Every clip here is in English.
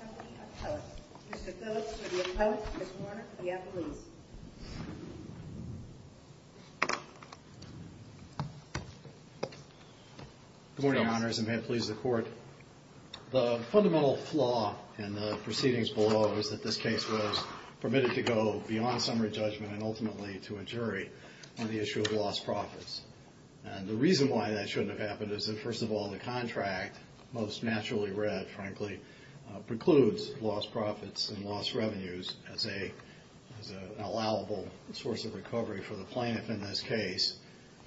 Company, Appellate. Mr. Phillips for the Appellate, Ms. Warner for the Appellees. Good morning, Your Honors, and may it please the Court. The fundamental flaw in the proceedings below is that this case was permitted to go beyond summary judgment and ultimately to a jury on the issue of lost profits. And the reason why that shouldn't have happened is that, first of all, the contract, most naturally read, frankly, precludes lost profits and lost revenues as an allowable source of recovery for the plaintiff in this case.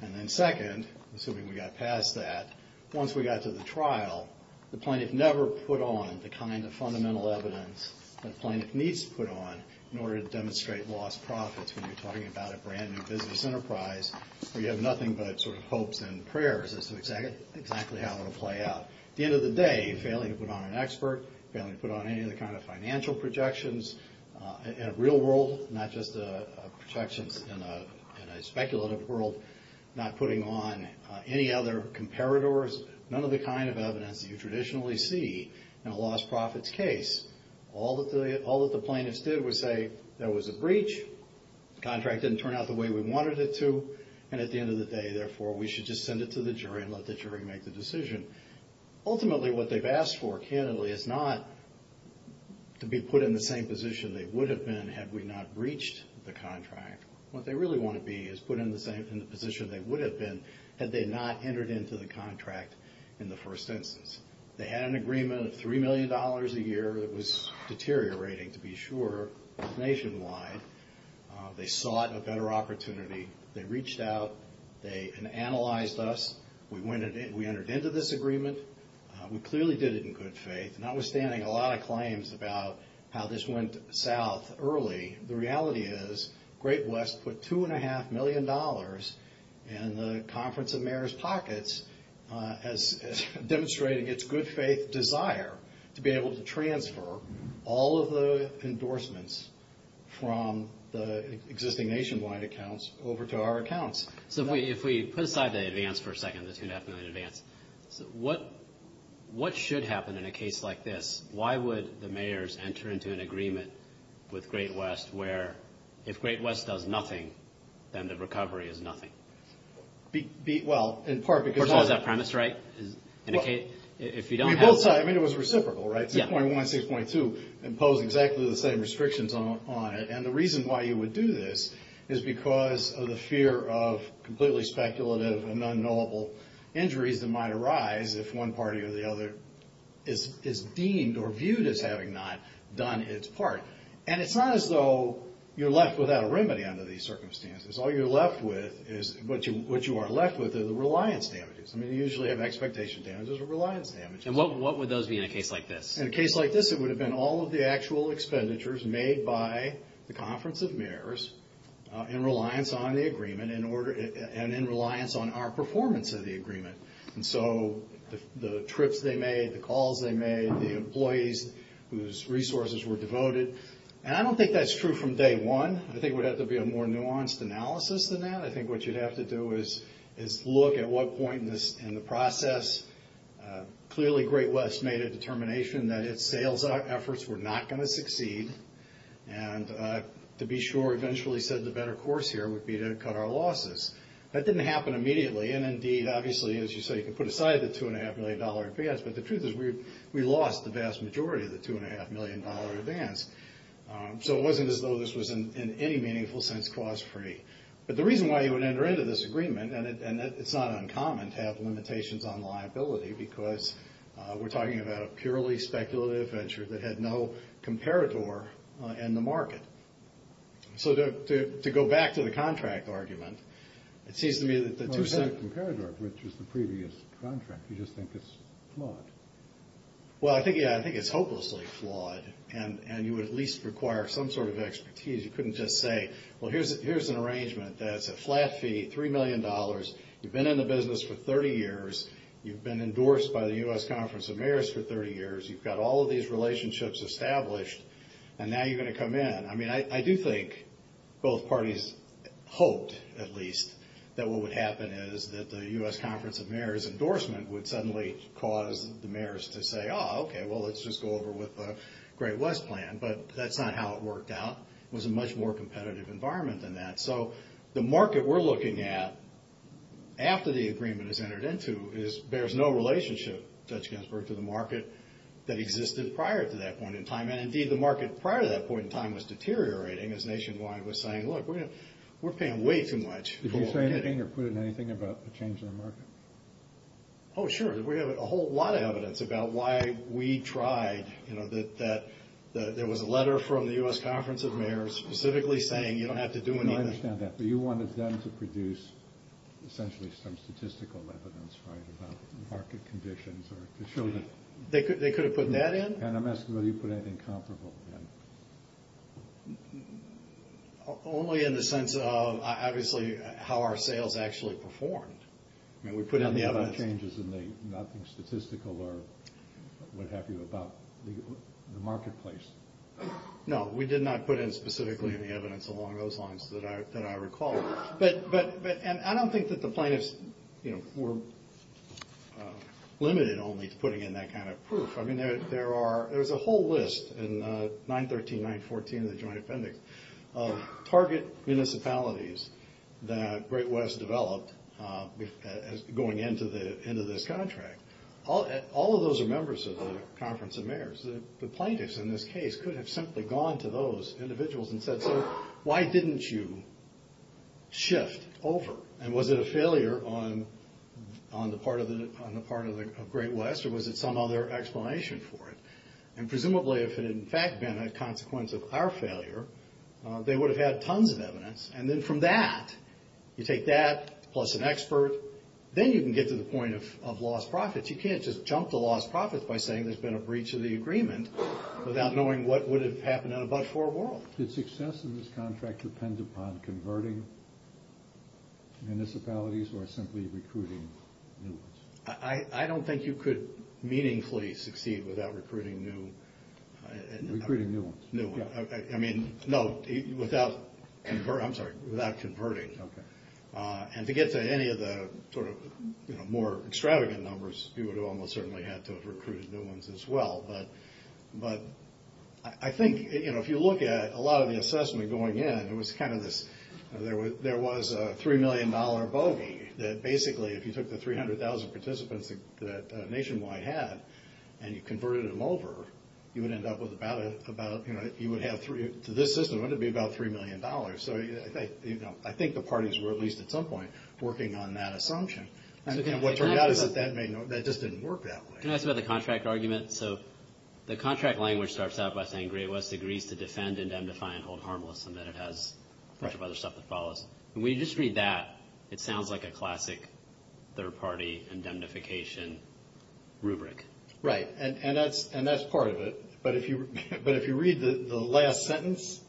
And then second, assuming we got past that, once we got to the trial, the plaintiff never put on the kind of fundamental evidence that the plaintiff needs to put on in order to demonstrate lost profits when you're talking about a brand new business enterprise where you have nothing but sort of hopes and prayers as to exactly how it will play out. At the end of the day, failing to put on an expert, failing to put on any of the kind of financial projections in a real world, not just projections in a speculative world, not putting on any other comparators, none of the kind of evidence that you traditionally see in a lost profits case. All that the plaintiffs did was say there was a breach, the contract didn't turn out the way we wanted it to, and at the end of the day, therefore, we should just send it to the jury and let the jury make the decision. Ultimately, what they've asked for, candidly, is not to be put in the same position they would have been had we not breached the contract. What they really want to be is put in the same position they would have been had they not entered into the contract in the first instance. They had an agreement of $3 million a year that was deteriorating, to be sure, nationwide. They sought a better opportunity. They reached out. They analyzed us. We entered into this agreement. We clearly did it in good faith. Notwithstanding a lot of claims about how this went south early, the reality is Great West put $2.5 million in the Conference of Mayors' pockets as demonstrating its good faith desire to be able to transfer all of the endorsements from the existing nationwide accounts over to our accounts. So if we put aside the advance for a second, the $2.5 million advance, what should happen in a case like this? Why would the mayors enter into an agreement with Great West where if Great West does nothing, then the recovery is nothing? Well, in part because... First of all, is that premise right? If you don't have... We both saw it. I mean, it was reciprocal, right? Yeah. 2.1, 6.2 impose exactly the same restrictions on it. And the reason why you would do this is because of the fear of completely speculative and unknowable injuries that might arise if one party or the other is deemed or viewed as having not done its part. And it's not as though you're left without a remedy under these circumstances. All you're left with is... What you are left with is the reliance damages. I mean, you usually have expectation damages or reliance damages. And what would those be in a case like this? In a case like this, it would have been all of the actual expenditures made by the Conference of Mayors in reliance on the agreement and in reliance on our performance of the agreement. And so, the trips they made, the calls they made, the employees whose resources were devoted. And I don't think that's true from day one. I think it would have to be a more nuanced analysis than that. I think what you'd have to do is look at what point in the process. Clearly Great West made a determination that its sales efforts were not going to succeed. And to be sure, eventually said the better course here would be to cut our losses. That didn't happen immediately. And indeed, obviously, as you say, you can put aside the $2.5 million advance. But the truth is we lost the vast majority of the $2.5 million advance. So it wasn't as though this was in any meaningful sense cost free. But the reason why you would enter into this agreement, and it's not uncommon to have limitations on liability because we're talking about a purely speculative venture that had no comparator in the market. So to go back to the contract argument, it seems to me that the two sides Well, it has a comparator, which is the previous contract. You just think it's flawed. Well, I think, yeah, I think it's hopelessly flawed. And you would at least require some sort of expertise. You couldn't just say, well, here's an arrangement that's a flat fee, $3 million. You've been in the business for 30 years. You've been endorsed by the various relationships established. And now you're going to come in. I mean, I do think both parties hoped, at least, that what would happen is that the U.S. Conference of Mayors endorsement would suddenly cause the mayors to say, oh, okay, well, let's just go over with the Great West plan. But that's not how it worked out. It was a much more competitive environment than that. So the market we're looking at after the agreement is entered into bears no relationship, Judge Ginsburg, to the market that existed prior to that point in time. And indeed, the market prior to that point in time was deteriorating, as Nationwide was saying, look, we're paying way too much. Did you say anything or put in anything about a change in the market? Oh, sure. We have a whole lot of evidence about why we tried, you know, that there was a letter from the U.S. Conference of Mayors specifically saying you don't have to do anything. I understand that. But you wanted them to produce, essentially, some statistical evidence, right, about market conditions, or to show that... They could have put that in. And I'm asking whether you put anything comparable in. Only in the sense of, obviously, how our sales actually performed. I mean, we put in the evidence. Any other changes in the, nothing statistical or what have you, about the marketplace? No, we did not put in specifically any evidence along those lines that I recall. But, and I don't think that the plaintiffs, you know, were limited only to putting in that kind of proof. I mean, there are, there's a whole list in 913, 914 of the Joint Appendix of target municipalities that Great West developed going into this contract. All of those are case, could have simply gone to those individuals and said, so why didn't you shift over? And was it a failure on the part of Great West, or was it some other explanation for it? And presumably if it had, in fact, been a consequence of our failure, they would have had tons of evidence. And then from that, you take that plus an expert, then you can get to the point of lost profits. You can't just jump to lost profits by saying there's been a breach of the agreement without knowing what would have happened in a but-for world. Did success in this contract depend upon converting municipalities, or simply recruiting new ones? I don't think you could meaningfully succeed without recruiting new ones. Recruiting new ones. New ones. I mean, no, without, I'm sorry, without converting. And to get to any of the sort of, you know, more extravagant numbers, you would almost certainly have to have recruited new ones as well. But I think, you know, if you look at a lot of the assessment going in, it was kind of this, there was a $3 million bogey, that basically if you took the 300,000 participants that Nationwide had, and you converted them over, you would end up with about, you know, you would have, to this system, it would be about $3 million. So, you know, I think the parties were, at least at some point, working on that assumption. And what turned out is that that just didn't work that way. Can I ask about the contract argument? So, the contract language starts out by saying Great West agrees to defend, indemnify, and hold harmless, and then it has a bunch of other stuff that follows. When you just read that, it sounds like a classic third party indemnification rubric. Right. And that's part of it. But if you read the last sentence,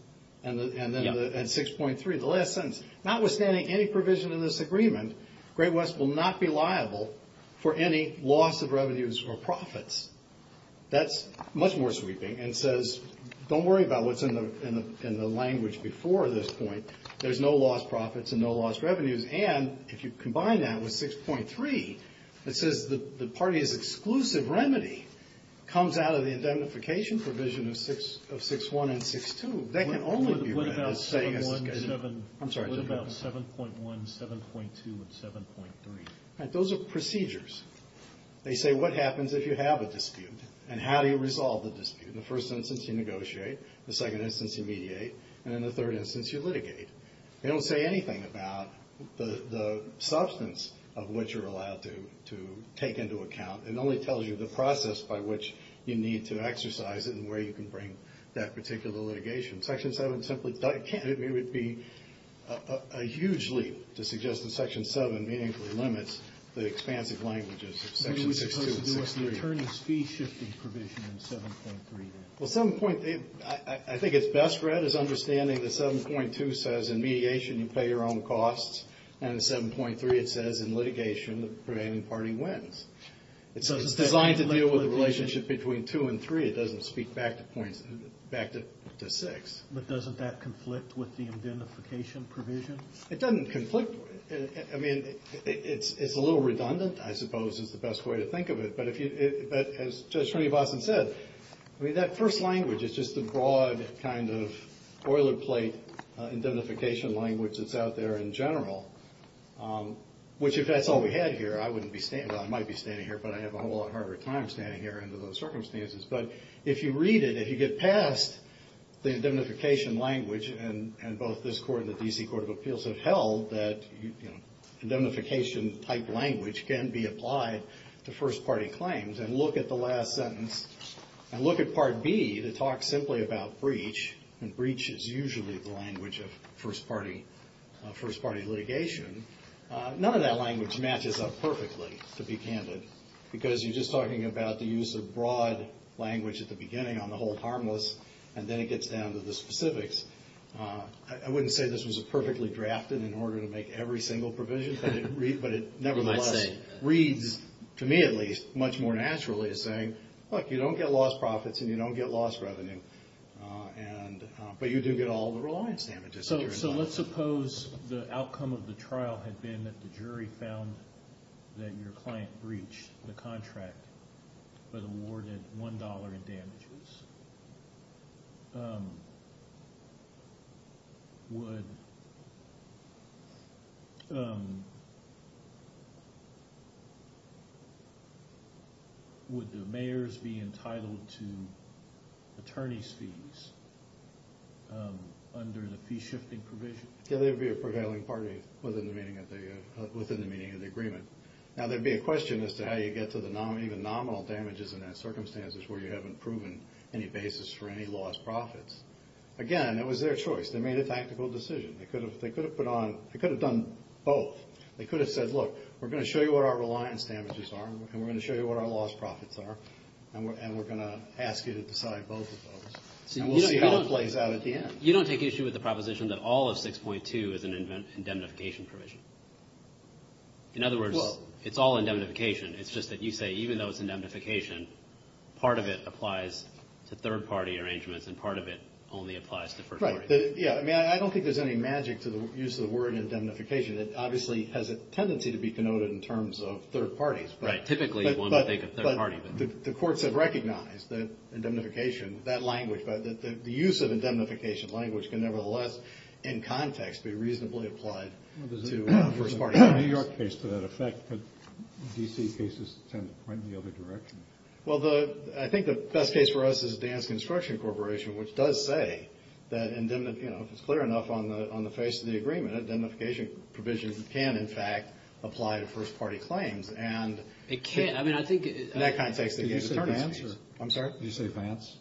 and 6.3, the last sentence, notwithstanding any provision in this agreement, Great West will not be liable for any loss of revenues or profits. That's much more sweeping. And it says, don't worry about what's in the language before this point. There's no lost profits and no lost revenues. And if you combine that with 6.3, it says the party's exclusive remedy comes out of the indemnification provision of 6.1 and 6.2. What about 7.1, 7.2, and 7.3? Those are procedures. They say what happens if you have a dispute, and how do you resolve the dispute? In the first instance, you negotiate. In the second instance, you mediate. And in the third instance, you litigate. They don't say anything about the substance of what you're allowed to take into account. It only tells you the process by which you need to exercise it and where you can bring that particular litigation. Section 7 simply can't. It would be a huge leap to suggest that Section 7 meaningfully limits the expansive languages of Section 6.2 and 6.3. What's the attorney's fee shifting provision in 7.3 then? Well, 7.3, I think it's best read as understanding that 7.2 says in mediation, you pay your own costs. And in 7.3, it says in litigation, the prevailing party wins. It's designed to deal with the relationship between 2 and 3. It doesn't speak back to 6. But doesn't that conflict with the indemnification provision? It doesn't conflict. I mean, it's a little redundant, I suppose, is the best way to think of it. But as Judge Srinivasan said, I mean, that first language is just a broad kind of boilerplate indemnification language that's out there in general, which if that's all we had here, I wouldn't be standing, well, I might be standing here, but I have a whole lot harder time standing here under those circumstances. But if you read it, if you get past the indemnification language, and both this Court and the D.C. Court of Appeals have held that indemnification-type language can be applied to first-party claims and look at the last sentence and look at Part B that talks simply about breach, and to be candid, because you're just talking about the use of broad language at the beginning on the whole harmless, and then it gets down to the specifics, I wouldn't say this was a perfectly drafted in order to make every single provision, but it nevertheless reads, to me at least, much more naturally as saying, look, you don't get lost profits and you don't get lost revenue, but you do get all the reliance damages that you're in line with. So let's suppose the outcome of the trial had been that the jury found that your client breached the contract but awarded $1 in damages. Would the mayors be entitled to attorney's fees under the fee-shifting provision? Yeah, they would be a prevailing party within the meaning of the agreement. Now, there would be a question as to how you get to the even nominal damages in those circumstances where you haven't proven any basis for any lost profits. Again, it was their choice. They made a tactical decision. They could have done both. They could have said, look, we're going to show you what our reliance damages are and we're going to show you what our lost profits are and we're going to ask you to decide both of those. And we'll see how it plays out at the end. You don't take issue with the proposition that all of 6.2 is an indemnification provision? In other words, it's all indemnification. It's just that you say even though it's indemnification, part of it applies to third-party arrangements and part of it only applies to first parties. I don't think there's any magic to the use of the word indemnification. It obviously has a tendency to be connoted in terms of third parties. Typically, one would think of third parties. The courts have recognized that indemnification, that language, but the use of indemnification language can nevertheless, in context, be reasonably applied to first-party cases. New York case to that effect, but D.C. cases tend to point in the other direction. Well, I think the best case for us is Dan's Construction Corporation, which does say that indemnification, if it's clear enough on the face of the agreement, indemnification provisions can, in fact, apply to first-party claims. It can. In that context, they get attorneys fees. I'm sorry? Did you say Vance?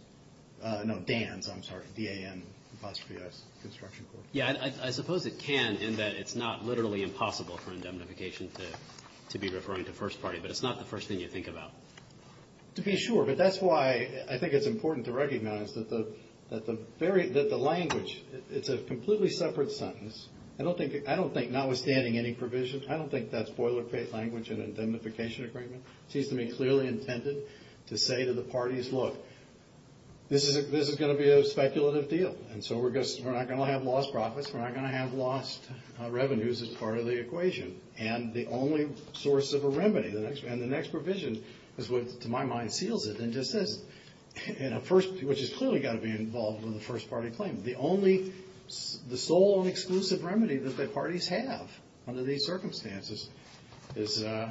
No, Dan's. I'm sorry. D-A-N apostrophe S. Construction Corporation. Yeah, I suppose it can in that it's not literally impossible for indemnification to be referring to first party, but it's not the first thing you think about. To be sure, but that's why I think it's important to recognize that the language, it's a completely separate sentence. I don't think, notwithstanding any provision, I don't think that's boilerplate language in an indemnification agreement. It seems to me clearly intended to say to the parties, look, this is going to be a speculative deal, and so we're not going to have lost profits, we're not going to have lost revenues as part of the equation, and the only source of a remedy, and the next provision is what, to my mind, seals it and just says, which has clearly got to be involved with a first-party claim. The only, the sole and exclusive remedy that the parties have under these circumstances is 6.1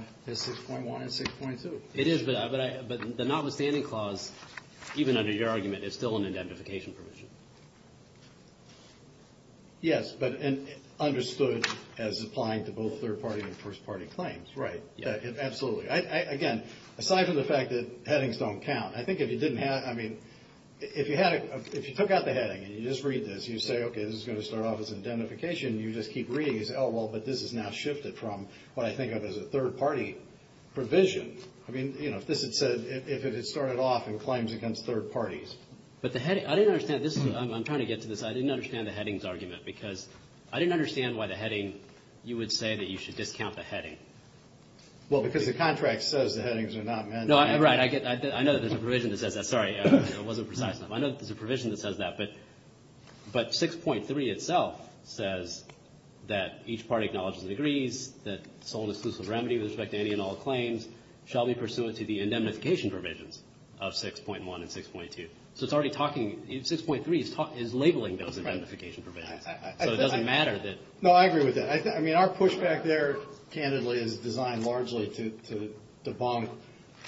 and 6.2. It is, but the notwithstanding clause, even under your argument, is still an indemnification provision. Yes, but understood as applying to both third-party and first-party claims. Right, absolutely. Again, aside from the fact that headings don't count, I think if you didn't have, I mean, if you had, if you took out the heading and you just read this, you say, okay, this is going to start off as an indemnification, you just keep reading and say, oh, well, but this is now shifted from what I think of as a third-party provision. I mean, you know, if this had said, if it had started off in claims against third parties. But the heading, I didn't understand, this is, I'm trying to get to this, I didn't understand the headings argument, because I didn't understand why the heading, you would say that you should discount the heading. Well, because the contract says the headings are not meant to. No, right, I get, I know that there's a provision that says that. Sorry, it wasn't precise enough. I know that there's a provision that says that, but 6.3 itself says that each party acknowledges and agrees that sole and exclusive remedy with respect to any and all claims. Shall we pursue it to the indemnification provisions of 6.1 and 6.2? So it's already talking, 6.3 is labeling those indemnification provisions. So it doesn't matter that. No, I agree with that. I mean, our pushback there, candidly, is designed largely to debunk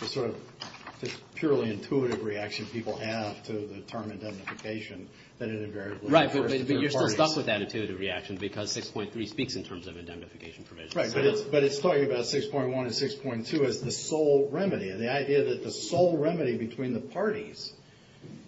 the sort of purely intuitive reaction people have to the term indemnification that it invariably refers to third parties. Right, but you're still stuck with that intuitive reaction because 6.3 speaks in terms of indemnification provisions. Right, but it's talking about 6.1 and 6.2 as the sole remedy and the idea that the sole remedy between the parties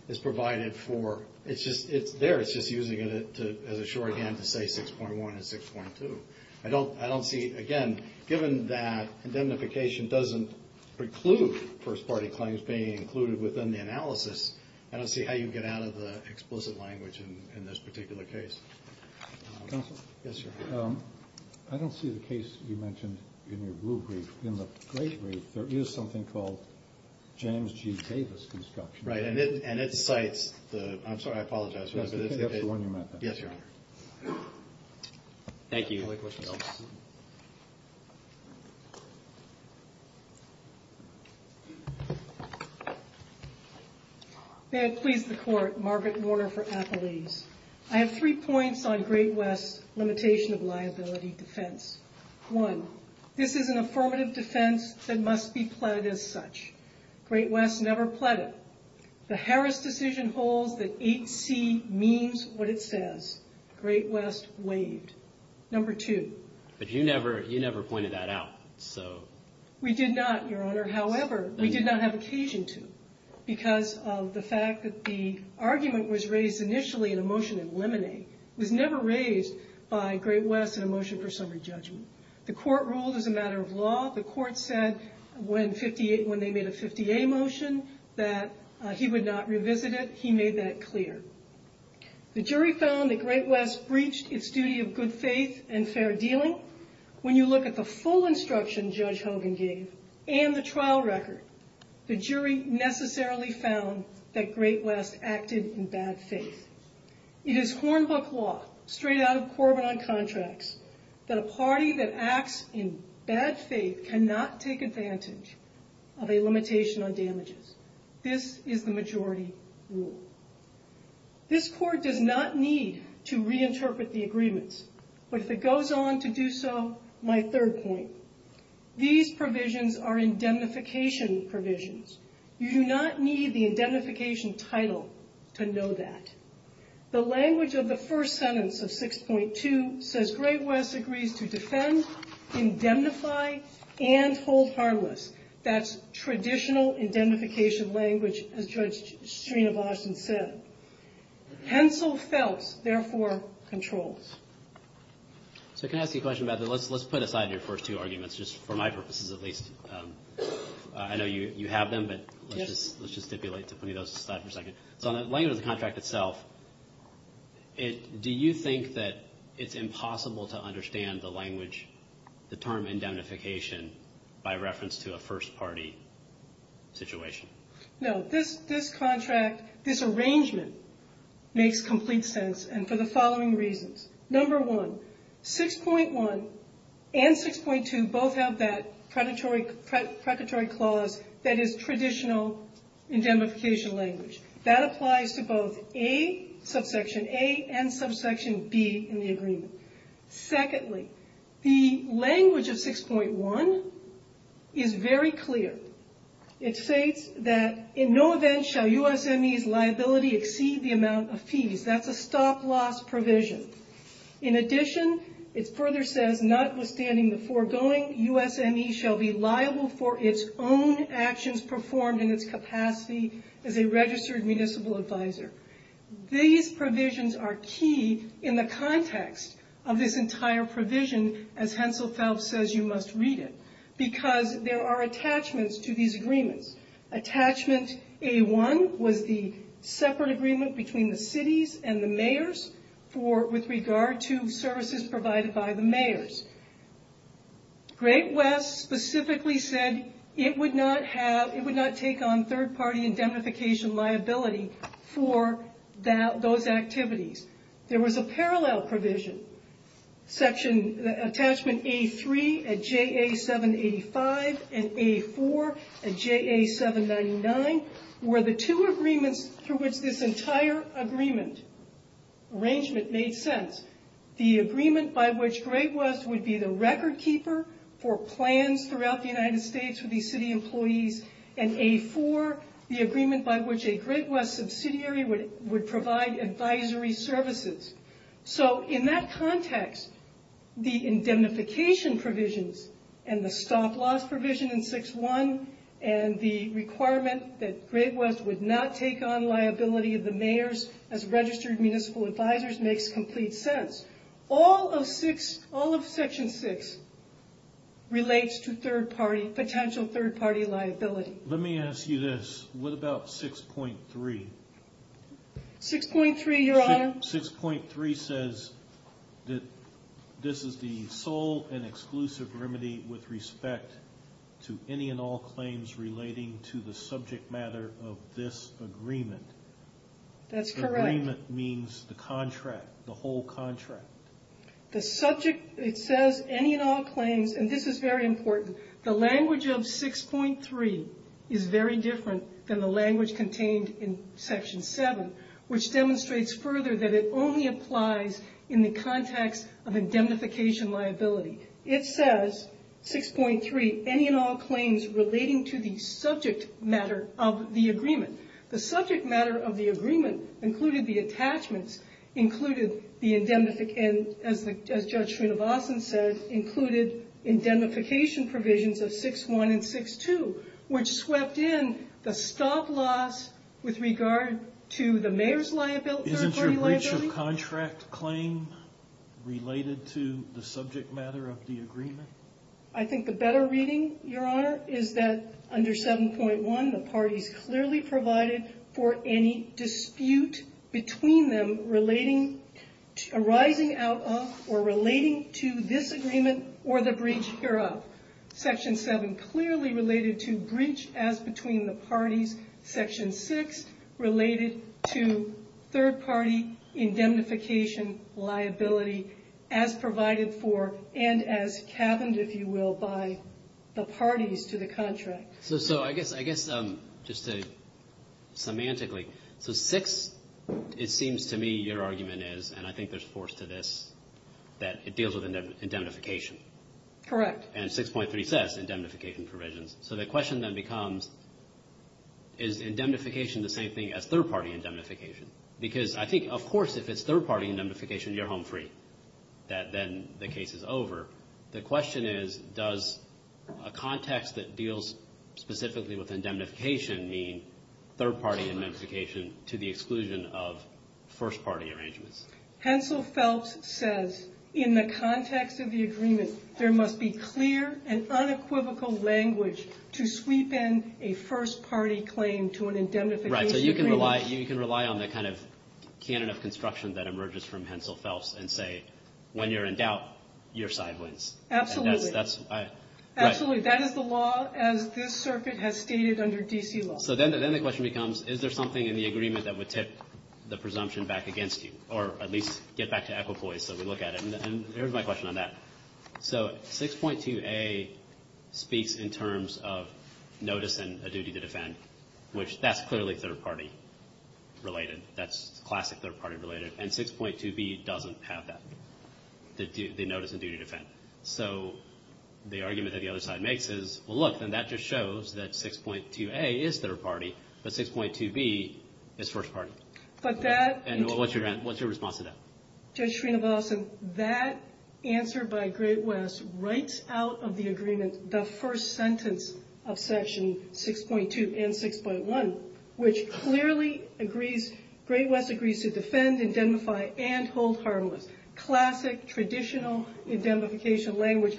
is provided for. It's just, it's there. It's just using it as a shorthand to say 6.1 and 6.2. I don't see, again, given that indemnification doesn't preclude first party claims being included within the analysis, I don't see how you get out of the explicit language in this particular case. Counsel? Yes, sir. I don't see the case you mentioned in your blue brief. In the great brief, there is something called James G. Davis construction. Right, and it cites the, I'm sorry, I apologize. That's the one you meant. Yes, Your Honor. Thank you. Any other questions? May it please the Court, Margaret Warner for Applebees. I have three points on Great West's limitation of liability defense. One, this is an affirmative defense that must be pled as such. Great West never pled it. The Harris decision holds that 8C means what it says. Great West waived. Number two. But you never, you never pointed that out, so. We did not, Your Honor, however, we did not have occasion to because of the fact that the argument was raised initially in a motion of limine. It was never raised by Great West in a motion for summary judgment. The Court ruled as a matter of law. The Court said when they made a 50A motion that he would not revisit it. He made that clear. The jury found that Great West breached its duty of good faith and fair dealing. When you look at the full instruction Judge Hogan gave and the trial record, the jury necessarily found that Great West acted in bad faith. It is Hornbook law, straight out of Corbin on Contracts, that a party that acts in bad faith cannot take advantage of a limitation on damages. This is the majority rule. This Court does not need to reinterpret the agreements. But if it goes on to do so, my third point. These provisions are indemnification provisions. You do not need the indemnification title to know that. The language of the first sentence of 6.2 says, Great West agrees to defend, indemnify, and hold harmless. That's traditional indemnification language, as Judge Sreenivasan said. Hensel felt, therefore, controls. So can I ask you a question about that? Let's put aside your first two arguments, just for my purposes at least. I know you have them, but let's just stipulate to put those aside for a second. So on the language of the contract itself, do you think that it's impossible to understand the language, the term indemnification, by reference to a first party situation? No. This contract, this arrangement, makes complete sense, and for the following reasons. Number one, 6.1 and 6.2 both have that predatory clause that is traditional indemnification language. That applies to both subsection A and subsection B in the agreement. Secondly, the language of 6.1 is very clear. It states that, in no event shall USME's liability exceed the amount of fees. That's a stop-loss provision. In addition, it further says, notwithstanding the foregoing, USME shall be liable for its own actions performed in its capacity as a registered municipal advisor. These provisions are key in the context of this entire provision, as Hensel Phelps says you must read it, because there are attachments to these agreements. Attachment A1 was the separate agreement between the cities and the mayors with regard to services provided by the mayors. Great West specifically said it would not take on third party indemnification liability for those activities. There was a parallel provision, attachment A3 at JA 785 and A4 at JA 799 were the two agreements through which this entire arrangement made sense. The agreement by which Great West would be the record keeper for plans throughout the United States for these city employees and A4, the agreement by which a Great West subsidiary would provide advisory services. In that context, the indemnification provisions and the stop loss provision in 6.1 and the requirement that Great West would not take on liability of the mayors as registered municipal advisors makes complete sense. All of section 6 relates to potential third party liability. Let me ask you this, what about 6.3? 6.3, your honor? This is the sole and exclusive remedy with respect to any and all claims relating to the subject matter of this agreement. That's correct. Agreement means the contract, the whole contract. The subject, it says any and all claims, and this is very important, the language of 6.3 is very different than the language contained in section 7, which demonstrates further that it only applies in the context of indemnification liability. It says 6.3, any and all claims relating to the subject matter of the agreement. The subject matter of the agreement included the attachments, included the indemnification, as Judge Srinivasan said, included indemnification provisions of 6.1 and 6.2, which swept in the stop loss with regard to the mayor's liability Is the breach of contract claim related to the subject matter of the agreement? I think the better reading, your honor, is that under 7.1 the parties clearly provided for any dispute between them relating, arising out of or relating to this agreement or the breach hereof. Section 7 clearly related to breach as between the parties. Section 6 related to third party indemnification liability as provided for and as caverned, if you will, by the parties to the contract. So I guess just semantically, so 6, it seems to me your argument is, and I think there's force to this, that it deals with indemnification. Correct. And 6.3 says indemnification provisions. So the question then becomes, is indemnification the same thing as third party indemnification? Because I think, of course, if it's third party indemnification you're home free. Then the case is over. The question is, does a context that deals specifically with indemnification mean third party indemnification to the exclusion of first party arrangements? Hensel Phelps says, in the context of the agreement, there must be clear and unequivocal language to sweep in a first party claim to an indemnification agreement. Right. So you can rely on the kind of canon of construction that emerges from Hensel Phelps and say, when you're in doubt, your side wins. Absolutely. Absolutely. That is the law as this circuit has stated under D.C. law. So then the question becomes, is there something in the agreement that would tip the presumption back against you? Or at least get back to equipoise so we look at it. Here's my question on that. So 6.2a speaks in terms of notice and a duty to defend, which that's clearly third party related. That's classic third party related. And 6.2b doesn't have that, the notice and duty to defend. So the argument that the other side makes is, well look, then that just shows that 6.2a is third party, but 6.2b is first party. And what's your response to that? Judge Srinivasan, that answer by Great West writes out of the agreement the first sentence of Section 6.2 and 6.1, which clearly agrees, Great West agrees to defend, indemnify, and hold harmless. Classic, traditional indemnification language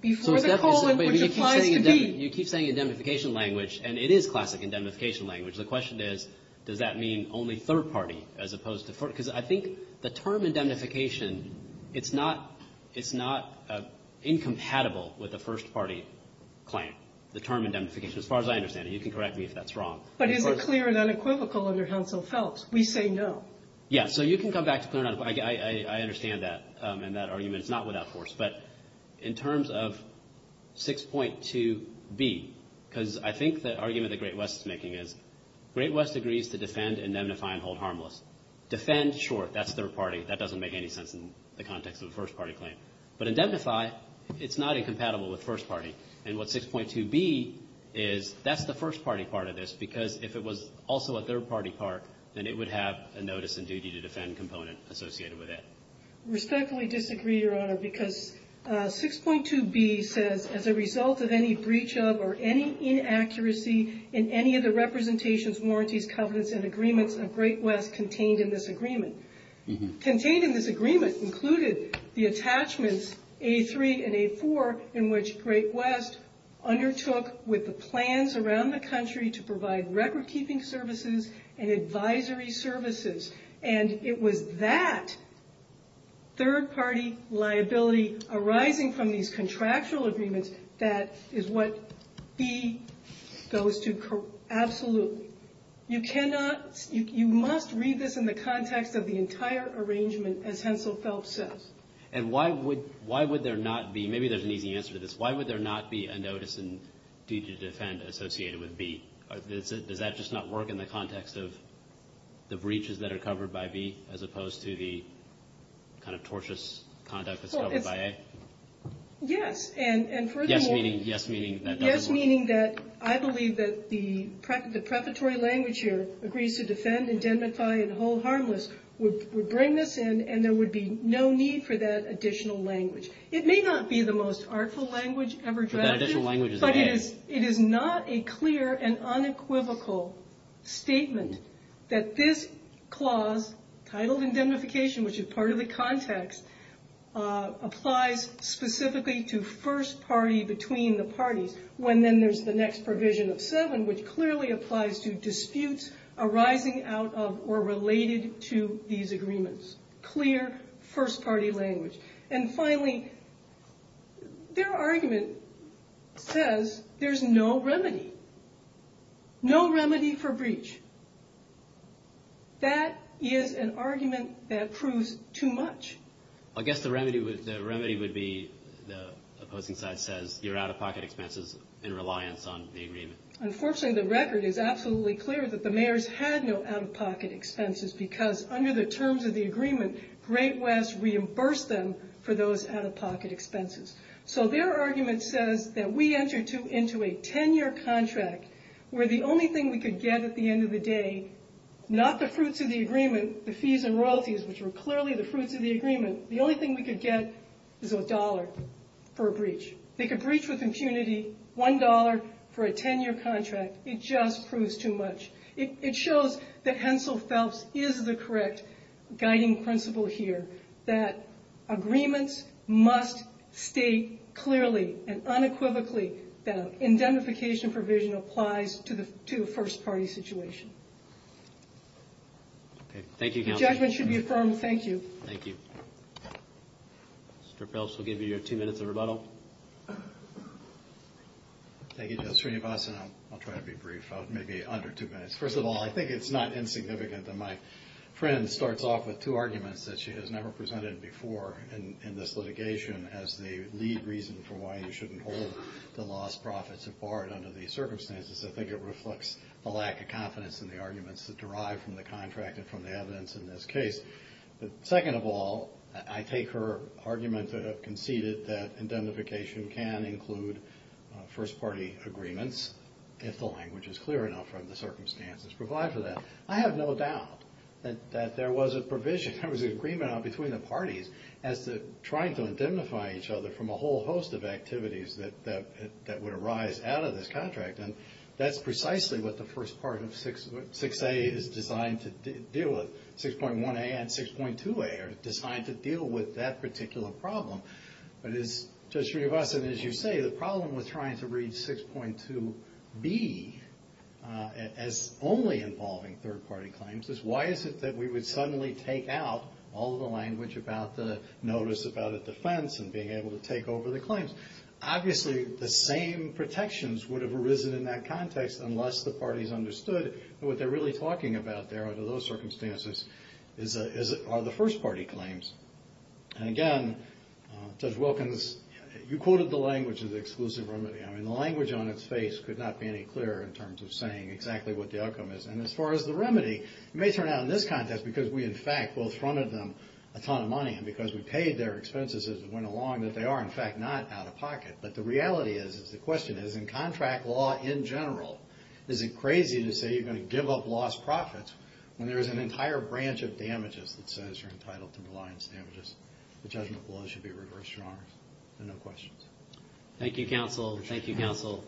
before the colon, which applies to b. You keep saying indemnification language, and it is classic indemnification language. The question is, does that mean only third party as opposed to first party? Because I think the term indemnification, it's not incompatible with the first party claim, the term indemnification, as far as I understand it. You can correct me if that's wrong. But is it clear and unequivocal under Hounsell-Phelps? We say no. Yeah, so you can come back to clear and unequivocal. I understand that. And that argument is not without force. But in terms of 6.2b, because I think the argument that Great West is making is, 6.2b says defend, indemnify, and hold harmless. Defend, sure, that's third party. That doesn't make any sense in the context of a first party claim. But indemnify, it's not incompatible with first party. And what 6.2b is, that's the first party part of this, because if it was also a third party part, then it would have a notice and duty to defend component associated with it. Respectfully disagree, Your Honor, because 6.2b says, as a result of any breach of or any inaccuracy in any of the representations, warranties, covenants, and agreements of Great West contained in this agreement. Contained in this agreement included the attachments A3 and A4 in which Great West undertook with the plans around the country to provide record keeping services and advisory services. And it was that third party liability arising from these contractual agreements that is what B goes to. Absolutely. You cannot, you must read this in the context of the entire arrangement, as Hensel Phelps says. And why would there not be, maybe there's an easy answer to this, why would there not be a notice and duty to defend associated with B? Does that just not work in the context of the breaches that are covered by B as opposed to the kind of tortious conduct that's covered by A? Yes, and furthermore... Yes, meaning that... Yes, meaning that I believe that the prefatory language here, agrees to defend, indemnify, and hold harmless, would bring this in and there would be no need for that additional language. It may not be the most artful language ever drafted, but it is not a clear and unequivocal statement that this clause titled indemnification, which is part of the context, applies specifically to first party between the parties, when then there's the next provision of seven, which clearly applies to disputes arising out of or related to these agreements. Clear first party language. And finally, their argument says there's no remedy. No remedy for breach. That is an argument that proves too much. I guess the remedy would be the opposing side says you're out-of-pocket expenses in reliance on the agreement. Unfortunately, the record is absolutely clear that the mayors had no out-of-pocket expenses because under the terms of the agreement, Great West reimbursed them for those out-of-pocket expenses. So their argument says that we entered into a 10-year contract where the only thing we could get at the end of the day, not the fruits of the agreement, the fees and royalties, which were clearly the fruits of the agreement, the only thing we could get is a dollar for a breach. They could breach with impunity one dollar for a 10-year contract. It just proves too much. It shows that Hensel Phelps is the correct guiding principle here that agreements must state clearly and unequivocally that an indemnification provision applies to the first party situation. Okay, thank you, Counsel. The judgment should be affirmed. Thank you. Thank you. Mr. Phelps will give you your two minutes of rebuttal. Thank you, Justice Srinivasan. I'll try to be brief, maybe under two minutes. First of all, I think it's not insignificant that my friend starts off with two arguments that she has never presented before in this litigation as the lead reason for why you shouldn't hold the lost profits of BART under these circumstances. I think it reflects the lack of confidence in the arguments that derive from the contract and from the evidence in this case. Second of all, I take her argument to have conceded that indemnification can include first party agreements if the language is clear enough from the circumstances provided for that. I have no doubt that there was a provision, there was an agreement between the parties as to trying to indemnify each other from a whole host of activities that would arise out of this contract. That's precisely what the first part of 6A is designed to deal with. 6.1A and 6.2A are designed to deal with that particular problem. But as Judge Riavasa and as you say, the problem with trying to read 6.2B as only involving third party claims is why is it that we would suddenly take out all the language about the notice about a defense and being able to take over the claims. Obviously, the same protections would have arisen in that context unless the parties understood what they're really talking about there under those circumstances are the first party claims. And again, Judge Wilkins, you quoted the language of the exclusive remedy. I mean, the language on its face could not be any clearer in terms of saying exactly what the outcome is. And as far as the remedy, it may turn out in this context because we, in fact, will front of them a ton of money and because we paid their expenses as it went along that they are, in fact, not out of pocket. But the reality is is the question is in contract law in general, is it crazy to say you're going to give up lost profits when there's an entire branch of damages that says you're entitled to reliance damages? The judgment below should be reversed. Your honors. And no questions. Thank you, counsel. Thank you, counsel.